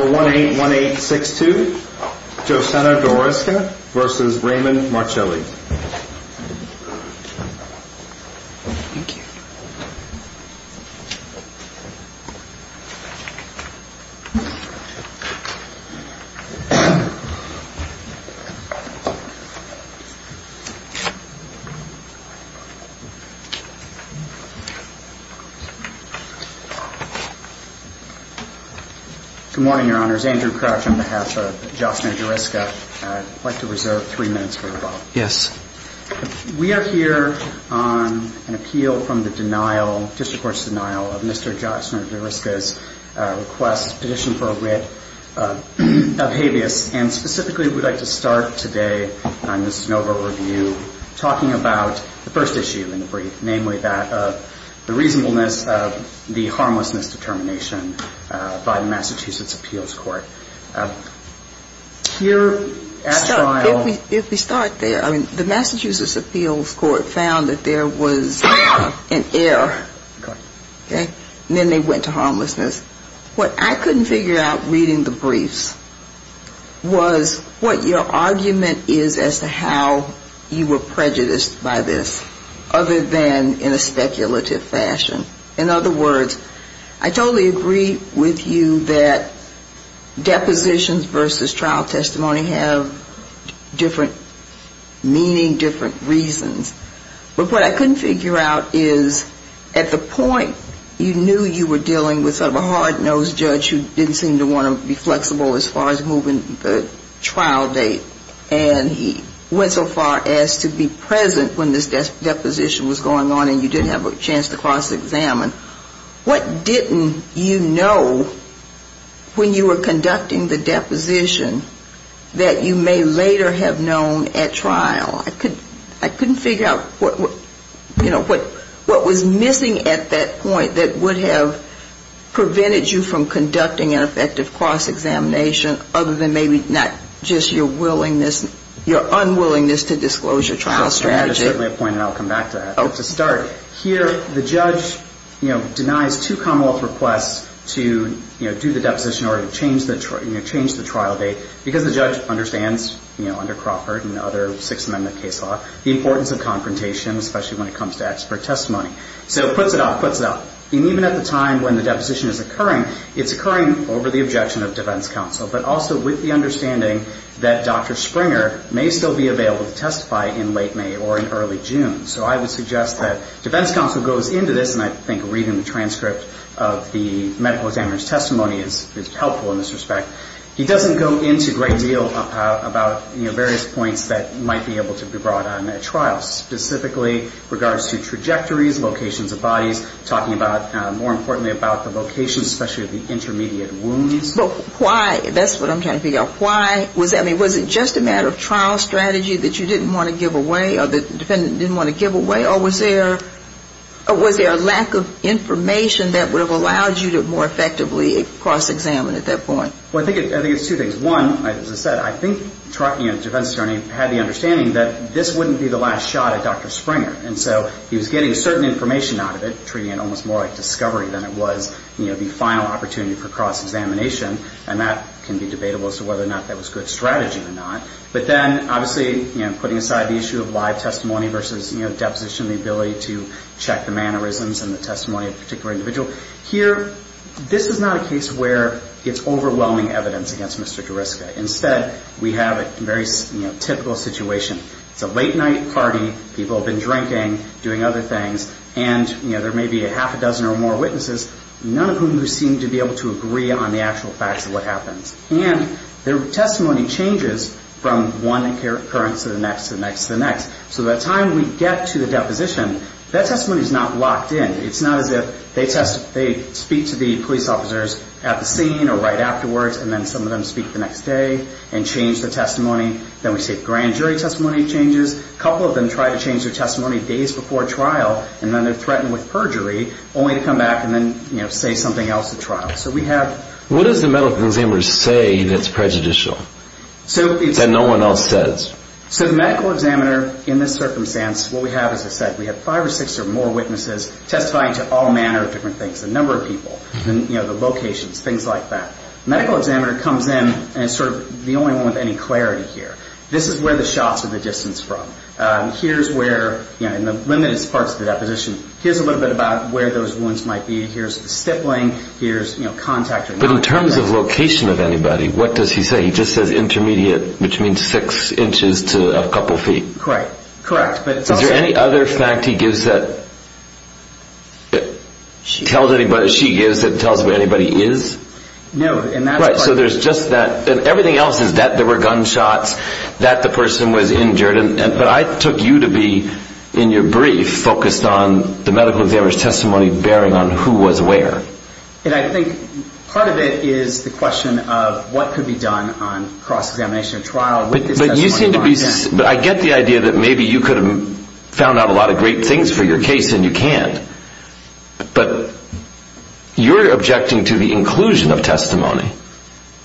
181862 Josena Dorisca v. Raymond Marchilli Good morning, your honors. Andrew Crouch on behalf of Josena Dorisca. I'd like to reserve three minutes for rebuttal. We are here on an appeal from the district court's denial of Mr. Josena Dorisca's request, petition for a writ of habeas, and specifically we'd like to start today on the Snover review, talking about the first issue in the brief, namely that of the reasonableness of the harmlessness determination by the Massachusetts Appeals Court. So, if we start there, the Massachusetts Appeals Court found that there was an error, and then they went to harmlessness. What I couldn't figure out reading the briefs was what your argument is as to how you were prejudiced by this, other than in a speculative fashion. In other words, I totally agree with you that depositions versus trial testimony have different meaning, different reasons. But what I couldn't figure out is, at the point, you knew you were dealing with sort of a hard-nosed judge who didn't seem to want to be flexible as far as moving the trial date, and he went so far as to be present when this deposition was going on and you didn't have a chance to cross-examine him. What didn't you know when you were conducting the deposition that you may later have known at trial? I couldn't figure out, you know, what was missing at that point that would have prevented you from conducting an effective cross-examination, other than maybe not just your willingness, your unwillingness to disclose your trial strategy. Here, the judge, you know, denies two Commonwealth requests to, you know, do the deposition in order to change the trial date, because the judge understands, you know, under Crawford and other Sixth Amendment case law, the importance of confrontation, especially when it comes to expert testimony. So puts it off, puts it off. And even at the time when the deposition is occurring, it's occurring over the objection of defense counsel, but also with the understanding that Dr. Springer may still be available to testify in late May or in early June. So I would suggest that defense counsel goes into this, and I think reading the transcript of the medical examiner's testimony is helpful in this respect. He doesn't go into a great deal about, you know, various points that might be able to be brought on at trial, specifically regards to trajectories, locations of bodies, talking about, more importantly, about the location, especially of the intermediate wounds. But why? That's what I'm trying to figure out. Why was that? I mean, was it just a matter of trial strategy that you didn't want to give away, or the defendant didn't want to give away, or was there a lack of information that would have allowed you to more effectively cross-examine at that point? I think it's two things. One, as I said, I think the defense attorney had the understanding that this wouldn't be the last shot at Dr. Springer. And so he was getting certain information out of it, treating it almost more like discovery than it was, you know, the final opportunity for cross-examination, and that can be debatable as to whether or not that was good strategy or not. But then, obviously, you know, putting aside the issue of live testimony versus, you know, deposition, the ability to check the mannerisms and the testimony of a particular individual. Here, this is not a case where it's overwhelming evidence against Mr. Gariska. Instead, we have a very, you know, typical situation. It's a late-night party, people have been drinking, doing other things, and, you know, there may be a half a dozen or more witnesses, none of whom seem to be able to agree on the actual facts of what happens. And their testimony changes from one occurrence to the next, to the next, to the next. So by the time we get to the deposition, that testimony is not locked in. It's not as if they speak to the police officers at the scene or right afterwards, and then some of them speak the next day and change the testimony. Then we see grand jury testimony changes. A couple of them try to change their testimony days before trial, and then they're threatened with perjury, only to come back and then, you know, say something else at trial. So we have... What does the medical examiner say that's prejudicial that no one else says? So the medical examiner, in this circumstance, what we have, as I said, we have five or six or more witnesses testifying to all manner of different things, a number of people, you know, the locations, things like that. Medical examiner comes in and is sort of the only one with any clarity here. This is where the shots are the distance from. Here's where, you know, in the limited parts of the deposition, here's a little bit about where those wounds might be, here's the stippling, here's, you know, contact... But in terms of location of anybody, what does he say? He just says intermediate, which means six inches to a couple feet. Correct. Correct. Is there any other fact he gives that... She gives that tells where anybody is? No. Right. So there's just that. And everything else is that there were gunshots, that the person was injured. But I took you to be, in your brief, focused on the medical examiner's testimony bearing on who was where. And I think part of it is the question of what could be done on cross-examination or trial with this testimony. But you seem to be... But I get the idea that maybe you could have found out a lot of great things for your case and you can't. But you're objecting to the inclusion of testimony.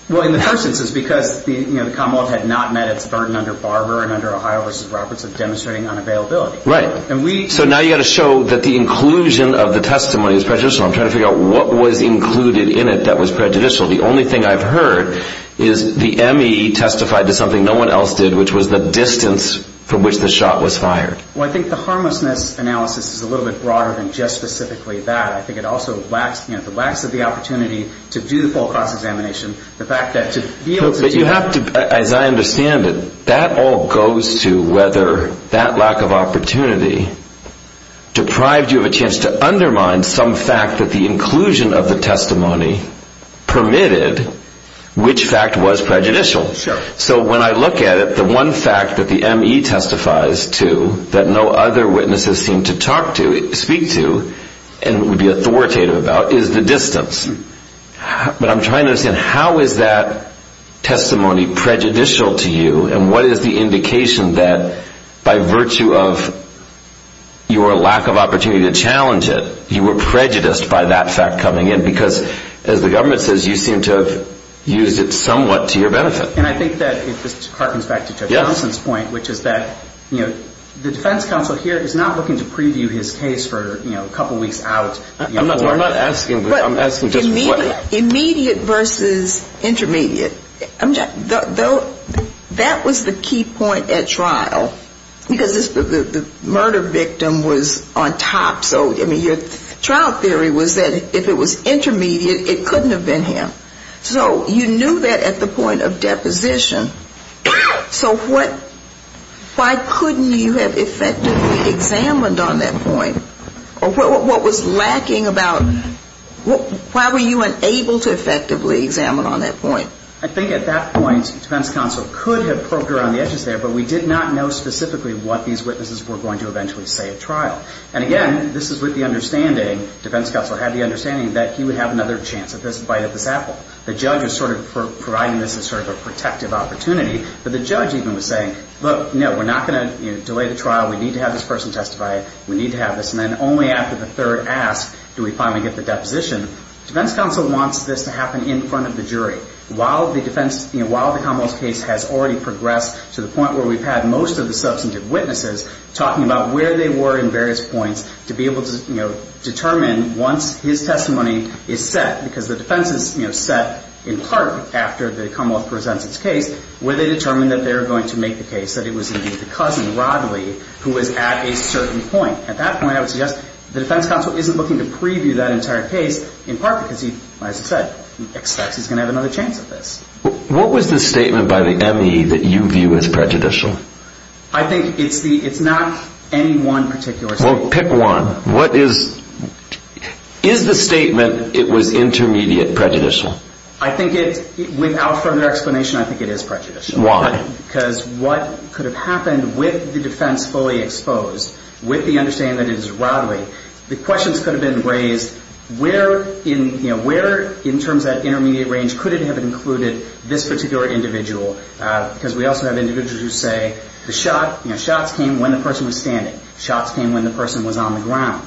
Well, in the first instance, because, you know, the Commonwealth had not met its burden under Barber and under Ohio v. Roberts of demonstrating unavailability. Right. And we... So now you've got to show that the inclusion of the testimony is prejudicial. I'm trying to figure out what was included in it that was prejudicial. The only thing I've heard is the M.E. testified to something no one else did, which was the distance from which the shot was fired. Well, I think the harmlessness analysis is a little bit broader than just specifically that. I think it also lacks, you know, it lacks the opportunity to do the full cross-examination. But you have to... As I understand it, that all goes to whether that lack of opportunity deprived you of a chance to undermine some fact that the inclusion of the testimony permitted which fact was prejudicial. So when I look at it, the one fact that the M.E. testifies to that no other witnesses seem to talk to, speak to, and would be authoritative about, is the distance. But I'm trying to understand, how is that testimony prejudicial to you? And what is the indication that by virtue of your lack of opportunity to challenge it, you were prejudiced by that fact coming in? Because, as the government says, you seem to have used it somewhat to your benefit. And I think that it just harkens back to Judge Thompson's point, which is that, you know, the defense counsel here is not looking to preview his case for, you know, a couple weeks out. I'm not asking, I'm asking just what... Immediate versus intermediate. That was the key point at trial, because the murder victim was on top. So, I mean, your trial theory was that if it was intermediate, it couldn't have been him. So you knew that at the point of deposition. So what, why couldn't you have effectively examined on that point? Or what was lacking about, why were you unable to effectively examine on that point? I think at that point, defense counsel could have poked around the edges there, but we did not know specifically what these witnesses were going to eventually say at trial. And, again, this is with the understanding, defense counsel had the understanding, that he would have another chance at this bite at this apple. The judge was sort of providing this as sort of a protective opportunity. But the judge even was saying, look, no, we're not going to delay the trial. We need to have this person testify. We need to have this. And then only after the third ask do we finally get the deposition. Defense counsel wants this to happen in front of the jury. While the defense, you know, while the Commonwealth's case has already progressed to the point where we've had most of the substantive witnesses talking about where they were in various points to be able to, you know, determine once his testimony is set. Because the defense is, you know, set in part after the Commonwealth presents its case, where they determine that they're going to make the case that it was indeed the cousin, Rodley, who was at a certain point. At that point, I would suggest the defense counsel isn't looking to preview that entire case in part because he, as I said, expects he's going to have another chance at this. What was the statement by the M.E. that you view as prejudicial? I think it's the, it's not any one particular statement. Well, pick one. What is, is the statement it was intermediate prejudicial? I think it's, without further explanation, I think it is prejudicial. Why? Because what could have happened with the defense fully exposed, with the understanding that it is Rodley, the questions could have been raised where in, you know, where in terms of that intermediate range could it have included this particular individual. Because we also have individuals who say the shot, you know, shots came when the person was standing. Shots came when the person was on the ground.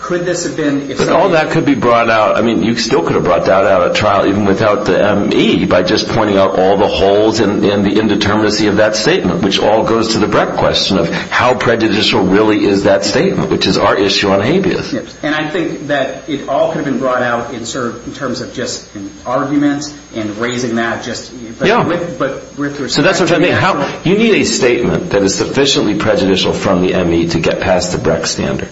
Could this have been, if someone... But all that could be brought out, I mean, you still could have brought that out at trial even without the M.E. by just pointing out all the holes and the indeterminacy of that statement, which all goes to the breadth question of how prejudicial really is that statement, which is our issue on habeas. And I think that it all could have been brought out in sort of, in terms of just arguments and raising that just... Yeah. So that's what I mean. You need a statement that is sufficiently prejudicial from the M.E. to get past the Brecht standard.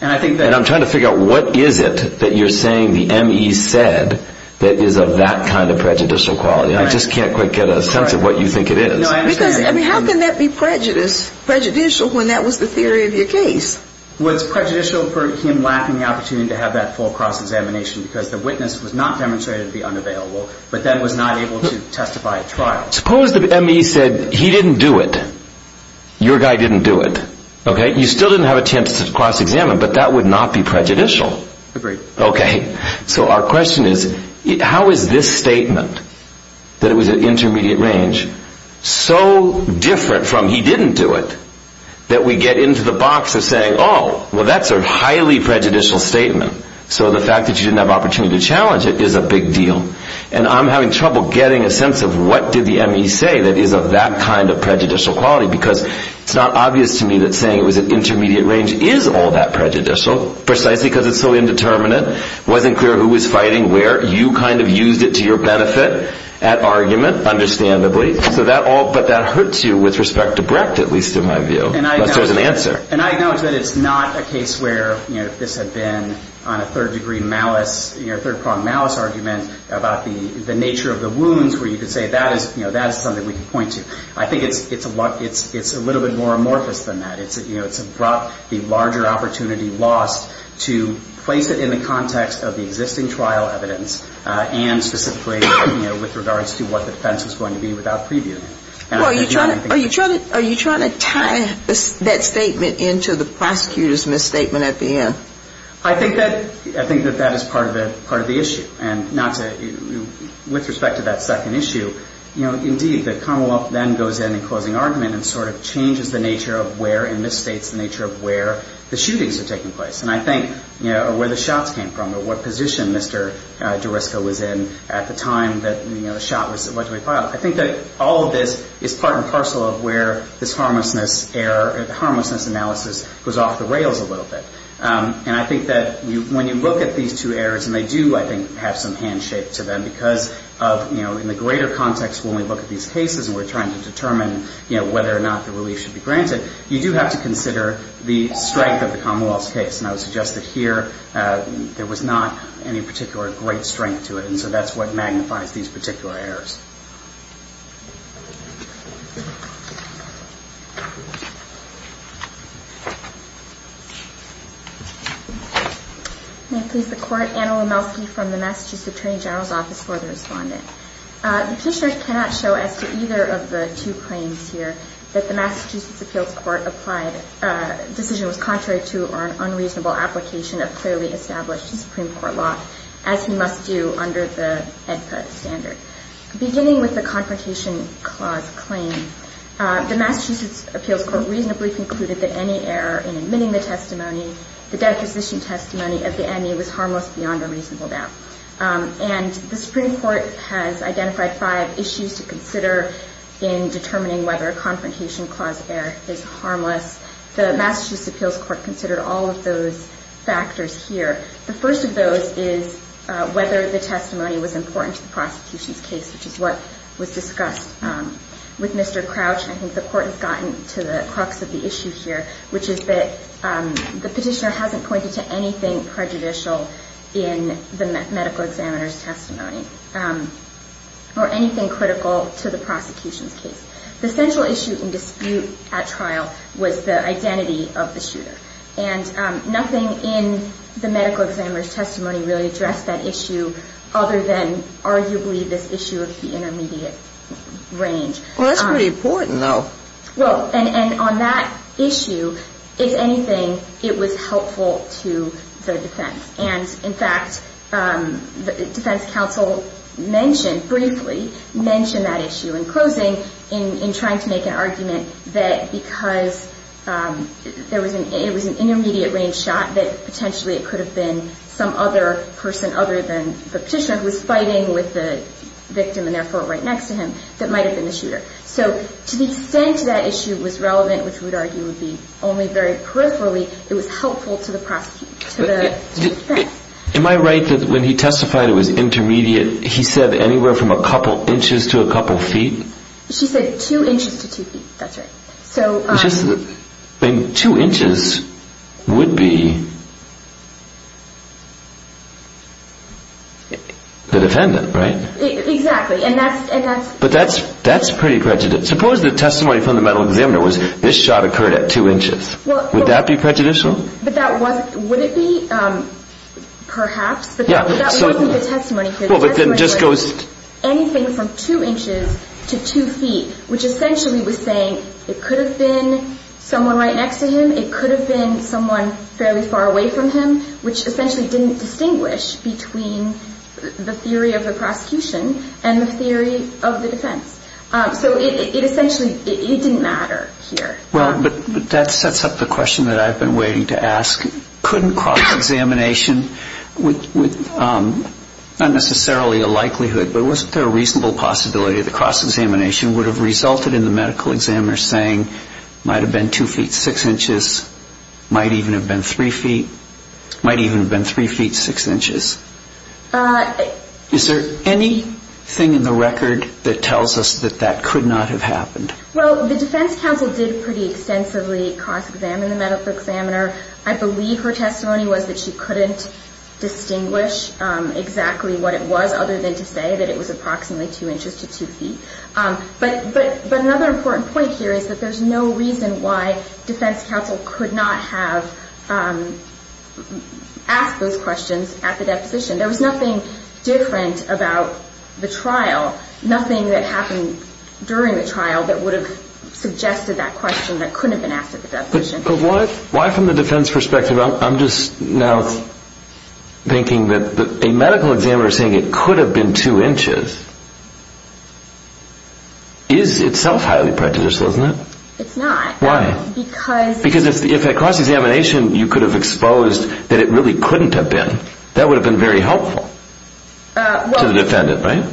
And I think that... And I'm trying to figure out what is it that you're saying the M.E. said that is of that kind of prejudicial quality. I just can't quite get a sense of what you think it is. No, I understand. Because, I mean, how can that be prejudicial when that was the theory of your case? Was prejudicial for him lacking the opportunity to have that full cross-examination because the witness was not demonstrated to be unavailable, but then was not able to testify at trial? Suppose the M.E. said he didn't do it. Your guy didn't do it. You still didn't have a chance to cross-examine, but that would not be prejudicial. Agreed. Okay. So our question is, how is this statement, that it was at intermediate range, so different from he didn't do it, that we get into the box of saying, oh, well, that's a highly prejudicial statement. So the fact that you didn't have an opportunity to challenge it is a big deal. And I'm having trouble getting a sense of what did the M.E. say that is of that kind of prejudicial quality, because it's not obvious to me that saying it was at intermediate range is all that prejudicial, precisely because it's so indeterminate. It wasn't clear who was fighting where. You kind of used it to your benefit at argument, understandably. But that hurts you with respect to Brecht, at least in my view. And I acknowledge that it's not a case where this had been on a third-degree malice, third-pronged malice argument about the nature of the wounds where you could say that is something we can point to. I think it's a little bit more amorphous than that. It's brought the larger opportunity lost to place it in the context of the existing trial evidence and specifically with regards to what the defense was going to be without preview. Are you trying to tie that statement into the prosecutor's misstatement at the end? I think that that is part of the issue. And not to – with respect to that second issue, you know, indeed, the Commonwealth then goes in in closing argument and sort of changes the nature of where, and misstates the nature of where the shootings are taking place. And I think, you know, or where the shots came from or what position Mr. Durisco was in at the time that, you know, the shot was allegedly filed. I think that all of this is part and parcel of where this harmlessness error – the harmlessness analysis goes off the rails a little bit. And I think that when you look at these two errors, and they do, I think, have some handshake to them because of, you know, in the greater context when we look at these cases and we're trying to determine, you know, whether or not the relief should be granted, you do have to consider the strength of the Commonwealth's case. And I would suggest that here there was not any particular great strength to it. And so that's what magnifies these particular errors. May it please the Court, Anna Lomelsky from the Massachusetts Attorney General's Office for the Respondent. The petitioner cannot show as to either of the two claims here that the Massachusetts Appeals Court applied a decision that was contrary to or an unreasonable application of clearly established Supreme Court law, as he must do under the HEDPA standard. Beginning with the Confrontation Clause claim, the Massachusetts Appeals Court reasonably concluded that any error in admitting the testimony the deposition testimony of the ME was harmless beyond a reasonable doubt. And the Supreme Court has identified five issues to consider in determining whether a Confrontation Clause error is harmless. The Massachusetts Appeals Court considered all of those factors here. The first of those is whether the testimony was important to the prosecution's case, which is what was discussed with Mr. Crouch. I think the Court has gotten to the crux of the issue here, which is that the petitioner hasn't pointed to anything prejudicial in the medical examiner's testimony or anything critical to the prosecution's case. The central issue in dispute at trial was the identity of the shooter. And nothing in the medical examiner's testimony really addressed that issue other than arguably this issue of the intermediate range. Well, that's pretty important, though. Well, and on that issue, if anything, it was helpful to the defense. And, in fact, the defense counsel mentioned briefly, mentioned that issue in closing, in trying to make an argument that because it was an intermediate range shot, that potentially it could have been some other person other than the petitioner who was fighting with the victim and therefore right next to him that might have been the shooter. So to the extent that issue was relevant, which we would argue would be only very peripherally, it was helpful to the defense. Am I right that when he testified it was intermediate, he said anywhere from a couple inches to a couple feet? She said two inches to two feet. That's right. Two inches would be the defendant, right? Exactly. But that's pretty prejudiced. Suppose the testimony from the medical examiner was this shot occurred at two inches. Would that be prejudicial? Would it be? Perhaps. But that wasn't the testimony here. The testimony was anything from two inches to two feet, which essentially was saying it could have been someone right next to him, it could have been someone fairly far away from him, which essentially didn't distinguish between the theory of the prosecution and the theory of the defense. So it essentially didn't matter here. Well, that sets up the question that I've been waiting to ask. Couldn't cross-examination, not necessarily a likelihood, but wasn't there a reasonable possibility that cross-examination would have resulted in the medical examiner saying it might have been two feet six inches, might even have been three feet, might even have been three feet six inches? Is there anything in the record that tells us that that could not have happened? Well, the defense counsel did pretty extensively cross-examine the medical examiner. I believe her testimony was that she couldn't distinguish exactly what it was, other than to say that it was approximately two inches to two feet. But another important point here is that there's no reason why defense counsel could not have asked those questions at the deposition. There was nothing different about the trial, nothing that happened during the trial that would have suggested that question that couldn't have been asked at the deposition. But why from the defense perspective? I'm just now thinking that a medical examiner saying it could have been two inches is itself highly prejudicial, isn't it? It's not. Why? Because if at cross-examination you could have exposed that it really couldn't have been, that would have been very helpful to the defendant, right?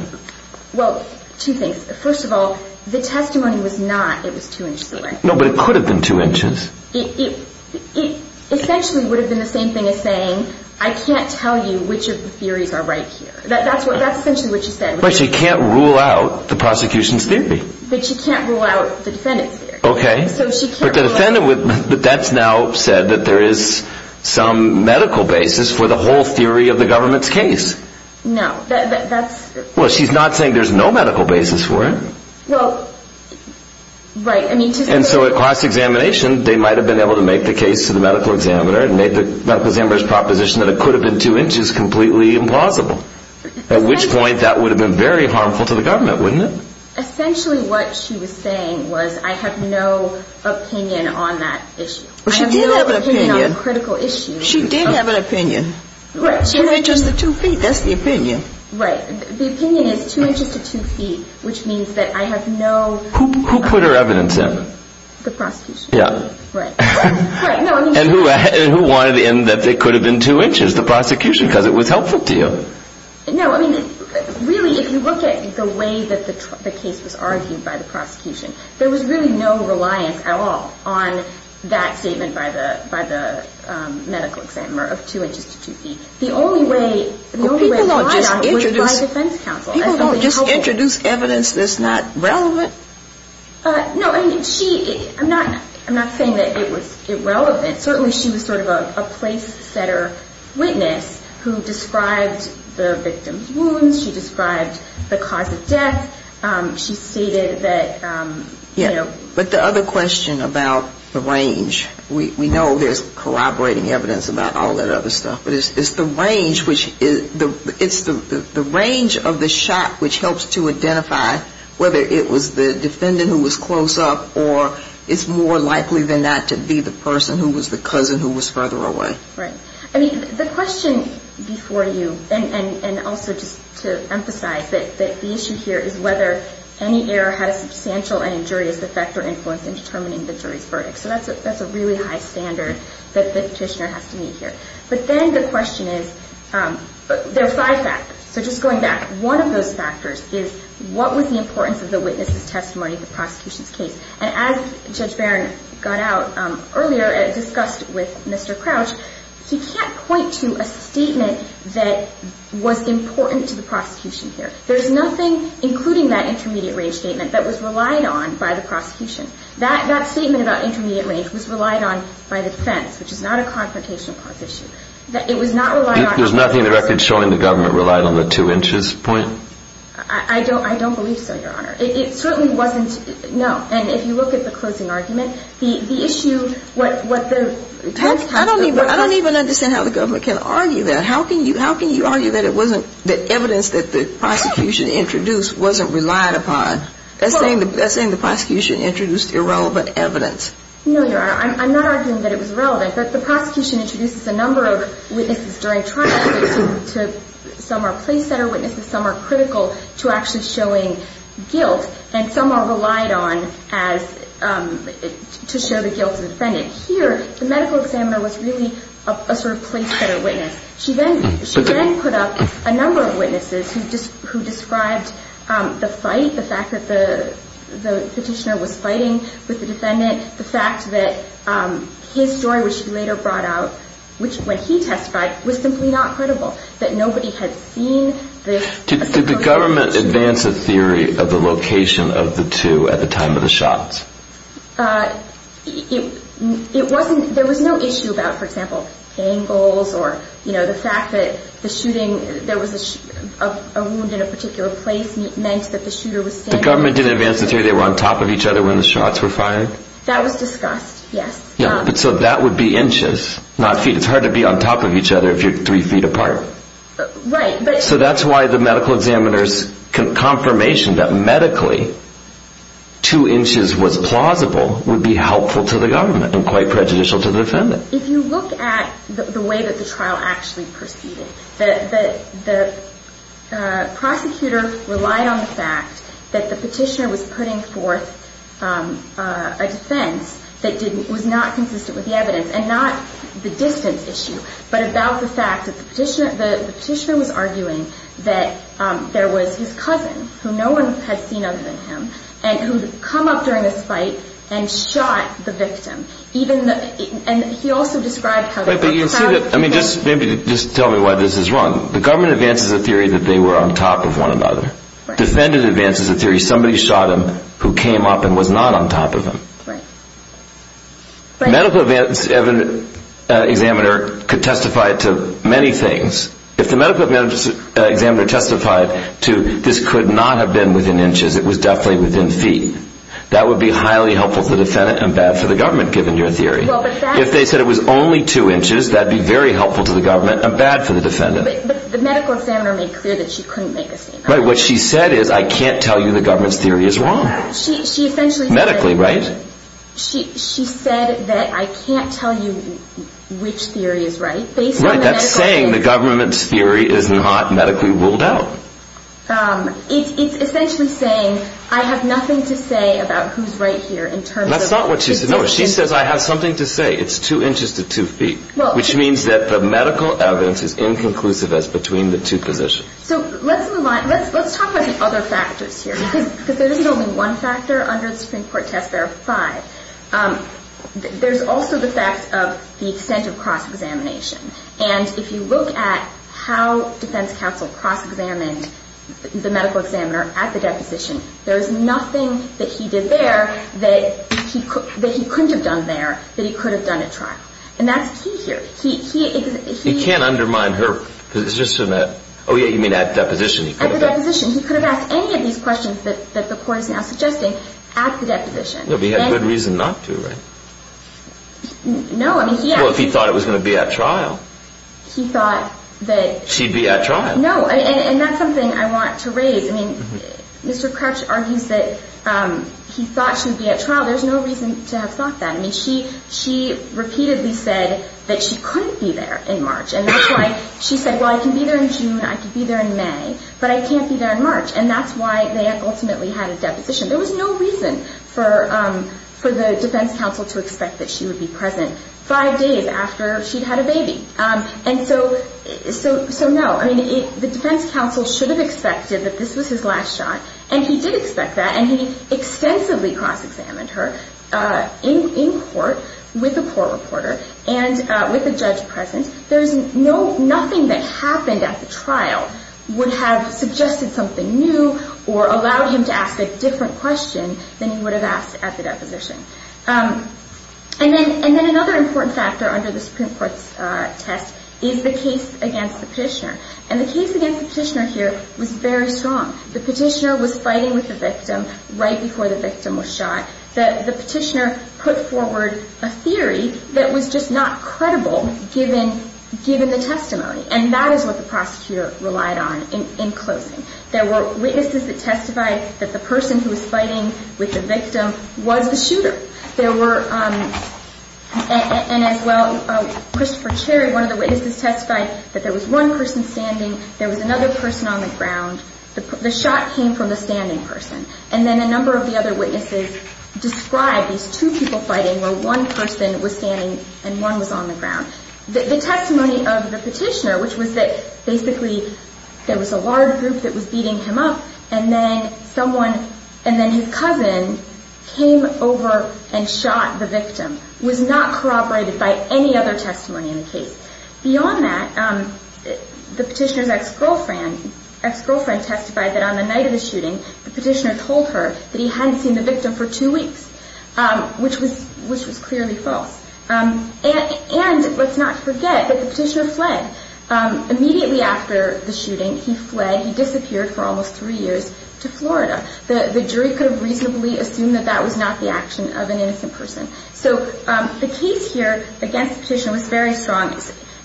Well, two things. First of all, the testimony was not it was two inches away. No, but it could have been two inches. It essentially would have been the same thing as saying, I can't tell you which of the theories are right here. That's essentially what she said. But she can't rule out the prosecution's theory. But she can't rule out the defendant's theory. Okay. But the defendant, that's now said that there is some medical basis for the whole theory of the government's case. No. Well, she's not saying there's no medical basis for it. Well, right. And so at cross-examination, they might have been able to make the case to the medical examiner and make the medical examiner's proposition that it could have been two inches completely implausible, at which point that would have been very harmful to the government, wouldn't it? Essentially what she was saying was I have no opinion on that issue. Well, she did have an opinion. I have no opinion on the critical issue. She did have an opinion. Right. Two inches to two feet, that's the opinion. Right. The opinion is two inches to two feet, which means that I have no ---- Who put her evidence in? The prosecution. Yeah. Right. And who wanted in that it could have been two inches? The prosecution, because it was helpful to you. No, I mean, really, if you look at the way that the case was argued by the prosecution, there was really no reliance at all on that statement by the medical examiner of two inches to two feet. The only way ---- People don't just introduce evidence that's not relevant. No, I mean, she ---- I'm not saying that it was irrelevant. Certainly she was sort of a place setter witness who described the victim's wounds. She described the cause of death. She stated that, you know ---- Yeah. But the other question about the range, we know there's corroborating evidence about all that other stuff. But it's the range of the shot which helps to identify whether it was the defendant who was close up or it's more likely than not to be the person who was the cousin who was further away. Right. I mean, the question before you, and also just to emphasize that the issue here is whether any error had a substantial and injurious effect or influence in determining the jury's verdict. So that's a really high standard that the petitioner has to meet here. But then the question is, there are five factors. So just going back, one of those factors is what was the importance of the witness's testimony in the prosecution's case. And as Judge Barron got out earlier and discussed with Mr. Crouch, he can't point to a statement that was important to the prosecution here. There's nothing, including that intermediate range statement, that was relied on by the prosecution. That statement about intermediate range was relied on by the defense, which is not a confrontational cause issue. It was not relied on by the defense. There's nothing in the record showing the government relied on the two inches point? I don't believe so, Your Honor. It certainly wasn't. No. And if you look at the closing argument, the issue, what the judge talked about. I don't even understand how the government can argue that. How can you argue that it wasn't the evidence that the prosecution introduced wasn't relied upon? That's saying the prosecution introduced irrelevant evidence. No, Your Honor. I'm not arguing that it was irrelevant. But the prosecution introduces a number of witnesses during trial. Some are place-setter witnesses. Some are critical to actually showing guilt. And some are relied on to show the guilt of the defendant. Here, the medical examiner was really a sort of place-setter witness. She then put up a number of witnesses who described the fight, the fact that the petitioner was fighting with the defendant, the fact that his story, which he later brought out, which when he testified, was simply not credible, that nobody had seen this. Did the government advance a theory of the location of the two at the time of the shots? It wasn't, there was no issue about, for example, angles or, you know, the fact that the shooting, there was a wound in a particular place meant that the shooter was standing. The government didn't advance a theory they were on top of each other when the shots were fired? That was discussed, yes. Yeah, but so that would be inches, not feet. It's hard to be on top of each other if you're three feet apart. Right, but. So that's why the medical examiner's confirmation that medically two inches was plausible would be helpful to the government and quite prejudicial to the defendant. If you look at the way that the trial actually proceeded, the prosecutor relied on the fact that the petitioner was putting forth a defense that was not consistent with the evidence and not the distance issue, but about the fact that the petitioner was arguing that there was his cousin, who no one had seen other than him, and who had come up during this fight and shot the victim. Even the, and he also described how. But you see that, I mean, just maybe just tell me why this is wrong. The government advances a theory that they were on top of one another. Defendant advances a theory somebody shot him who came up and was not on top of him. Right. Medical examiner could testify to many things. If the medical examiner testified to this could not have been within inches, it was definitely within feet. That would be highly helpful to the defendant and bad for the government, given your theory. If they said it was only two inches, that would be very helpful to the government and bad for the defendant. But the medical examiner made clear that she couldn't make the same argument. Right, what she said is I can't tell you the government's theory is wrong. Medically, right? She said that I can't tell you which theory is right. Right, that's saying the government's theory is not medically ruled out. It's essentially saying I have nothing to say about who's right here in terms of. That's not what she said. No, she says I have something to say. It's two inches to two feet, which means that the medical evidence is inconclusive as between the two positions. So let's move on. Let's talk about the other factors here, because there isn't only one factor under the Supreme Court test there are five. There's also the fact of the extent of cross-examination. And if you look at how defense counsel cross-examined the medical examiner at the deposition, there's nothing that he did there that he couldn't have done there that he could have done at trial. And that's key here. He can't undermine her. Oh, yeah, you mean at deposition. At the deposition. He could have asked any of these questions that the court is now suggesting at the deposition. No, but he had good reason not to, right? No. Well, if he thought it was going to be at trial. He thought that. She'd be at trial. No, and that's something I want to raise. I mean, Mr. Crouch argues that he thought she'd be at trial. There's no reason to have thought that. I mean, she repeatedly said that she couldn't be there in March. And that's why she said, well, I can be there in June, I can be there in May, but I can't be there in March. And that's why they ultimately had a deposition. There was no reason for the defense counsel to expect that she would be present five days after she'd had a baby. And so, no, I mean, the defense counsel should have expected that this was his last shot. And he did expect that. And he extensively cross-examined her in court with a court reporter and with a judge present. Nothing that happened at the trial would have suggested something new or allowed him to ask a different question than he would have asked at the deposition. And then another important factor under the Supreme Court's test is the case against the petitioner. And the case against the petitioner here was very strong. The petitioner was fighting with the victim right before the victim was shot. The petitioner put forward a theory that was just not credible given the testimony. And that is what the prosecutor relied on in closing. There were witnesses that testified that the person who was fighting with the victim was the shooter. And as well, Christopher Cherry, one of the witnesses, testified that there was one person standing, there was another person on the ground. The shot came from the standing person. And then a number of the other witnesses described these two people fighting where one person was standing and one was on the ground. The testimony of the petitioner, which was that basically there was a large group that was beating him up, and then someone and then his cousin came over and shot the victim, was not corroborated by any other testimony in the case. Beyond that, the petitioner's ex-girlfriend testified that on the night of the shooting, the petitioner told her that he hadn't seen the victim for two weeks, which was clearly false. And let's not forget that the petitioner fled. Immediately after the shooting, he fled. He disappeared for almost three years to Florida. The jury could have reasonably assumed that that was not the action of an innocent person. So the case here against the petitioner was very strong.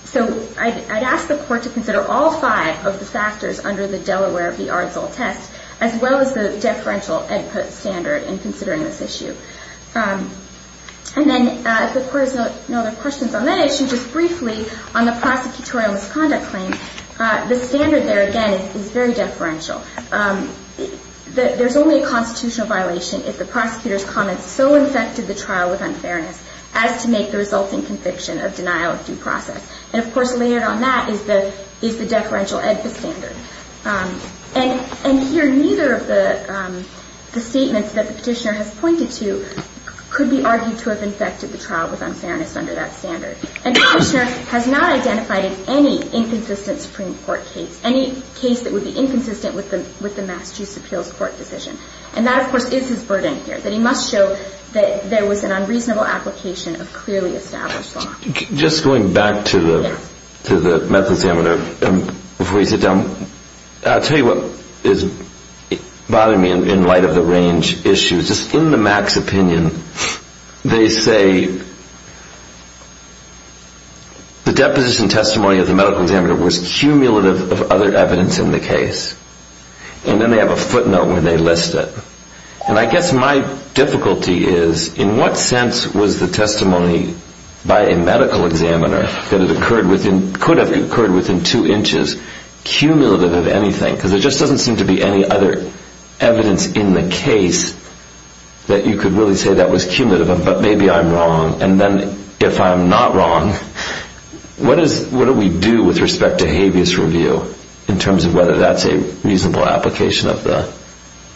So I'd ask the court to consider all five of the factors under the Delaware v. Arzul test, as well as the deferential input standard in considering this issue. And then if the court has no other questions on that issue, just briefly on the prosecutorial misconduct claim, the standard there, again, is very deferential. There's only a constitutional violation if the prosecutor's comments so infected the trial with unfairness as to make the resulting conviction of denial of due process. And, of course, layered on that is the deferential EDFA standard. And here, neither of the statements that the petitioner has pointed to could be argued to have infected the trial with unfairness under that standard. And the petitioner has not identified any inconsistent Supreme Court case, any case that would be inconsistent with the Massachusetts Appeals Court decision. And that, of course, is his burden here, that he must show that there was an unreasonable application of clearly established law. Just going back to the meth examiner, before you sit down, I'll tell you what is bothering me in light of the range issues. Just in the max opinion, they say the deposition testimony of the medical examiner was cumulative of other evidence in the case. And then they have a footnote where they list it. And I guess my difficulty is, in what sense was the testimony by a medical examiner that it could have occurred within two inches cumulative of anything? Because there just doesn't seem to be any other evidence in the case that you could really say that was cumulative of them. But maybe I'm wrong. And then if I'm not wrong, what do we do with respect to habeas review in terms of whether that's a reasonable application of the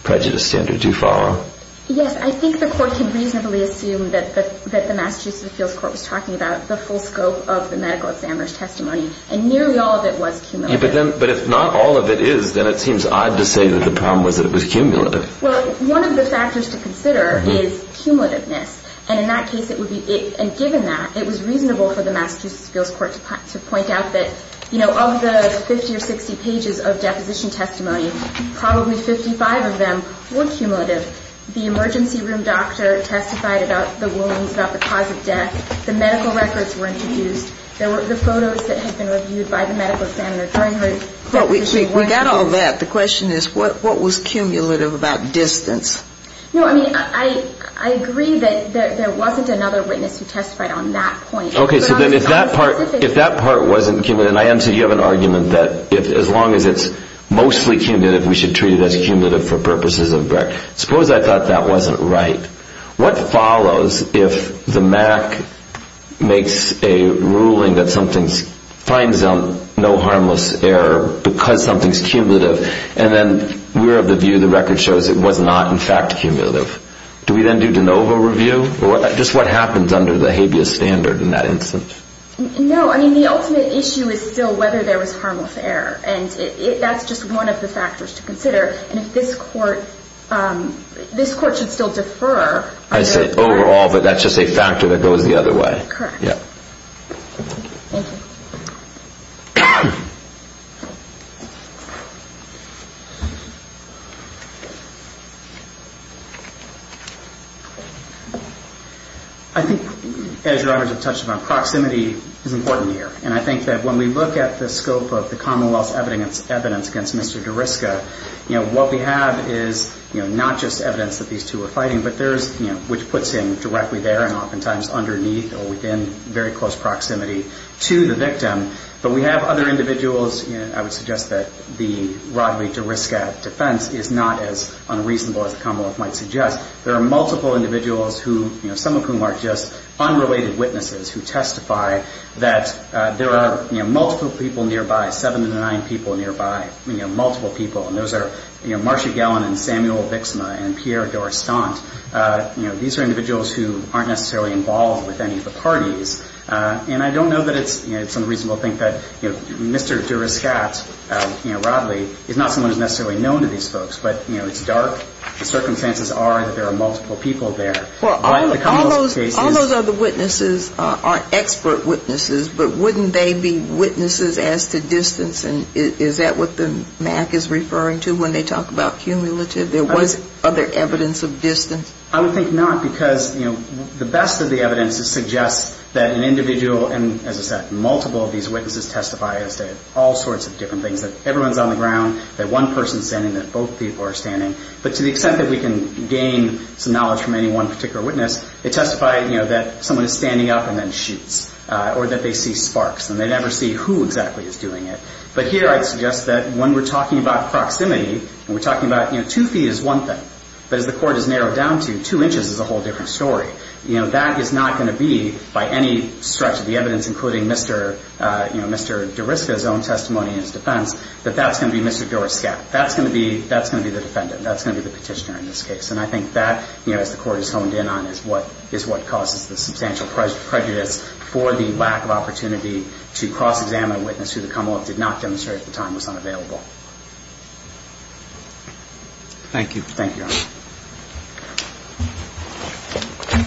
prejudice standard? Do you follow? Yes. I think the Court can reasonably assume that the Massachusetts Appeals Court was talking about the full scope of the medical examiner's testimony. And nearly all of it was cumulative. But if not all of it is, then it seems odd to say that the problem was that it was cumulative. Well, one of the factors to consider is cumulativeness. And in that case, it would be given that, it was reasonable for the Massachusetts Appeals Court to point out that of the 50 or 60 pages of deposition testimony, probably 55 of them were cumulative. The emergency room doctor testified about the wounds, about the cause of death. The medical records were introduced. There were the photos that had been reviewed by the medical examiner during her deposition. We got all that. The question is, what was cumulative about distance? No, I mean, I agree that there wasn't another witness who testified on that point. Okay. So then if that part wasn't cumulative, and I understand you have an argument that as long as it's mostly cumulative, we should treat it as cumulative for purposes of brevity. Suppose I thought that wasn't right. What follows if the MAC makes a ruling that something's, finds no harmless error because something's cumulative, and then we're of the view the record shows it was not, in fact, cumulative? Do we then do de novo review? Or just what happens under the habeas standard in that instance? No, I mean, the ultimate issue is still whether there was harmless error. And that's just one of the factors to consider. And if this court, this court should still defer. I said overall, but that's just a factor that goes the other way. Correct. Yeah. Thank you. I think, as Your Honors have touched upon, proximity is important here. And I think that when we look at the scope of the Commonwealth's evidence against Mr. Deriska, what we have is not just evidence that these two are fighting, but there's, which puts him directly there and oftentimes underneath or within very close proximity to the victim. But we have other individuals, I would suggest that the Rodney Deriska defense is not as unreasonable as the Commonwealth might suggest. There are multiple individuals who, some of whom are just unrelated witnesses who testify that there are, you know, multiple people nearby, seven to nine people nearby, you know, multiple people. And those are, you know, Marcia Gellin and Samuel Vixma and Pierre Dorostant. You know, these are individuals who aren't necessarily involved with any of the parties. And I don't know that it's unreasonable to think that, you know, Mr. Deriska, you know, Rodney, is not someone who's necessarily known to these folks. But, you know, it's dark. The circumstances are that there are multiple people there. All those other witnesses are expert witnesses, but wouldn't they be witnesses as to distance? And is that what the MAC is referring to when they talk about cumulative? There was other evidence of distance. I would think not, because, you know, the best of the evidence suggests that an individual, and as I said, multiple of these witnesses testify as to all sorts of different things, that everyone's on the ground, that one person's standing, that both people are standing. But to the extent that we can gain some knowledge from any one particular witness, they testify, you know, that someone is standing up and then shoots or that they see sparks and they never see who exactly is doing it. But here I'd suggest that when we're talking about proximity and we're talking about, you know, two feet is one thing, but as the court has narrowed down to, two inches is a whole different story. You know, that is not going to be, by any stretch of the evidence, including Mr. Deriska's own testimony in his defense, that that's going to be Mr. Dorostant. That's going to be the defendant. That's going to be the petitioner in this case. And I think that, you know, as the court has honed in on, is what causes the substantial prejudice for the lack of opportunity to cross-examine a witness who the comelot did not demonstrate at the time was unavailable. Thank you, Your Honor.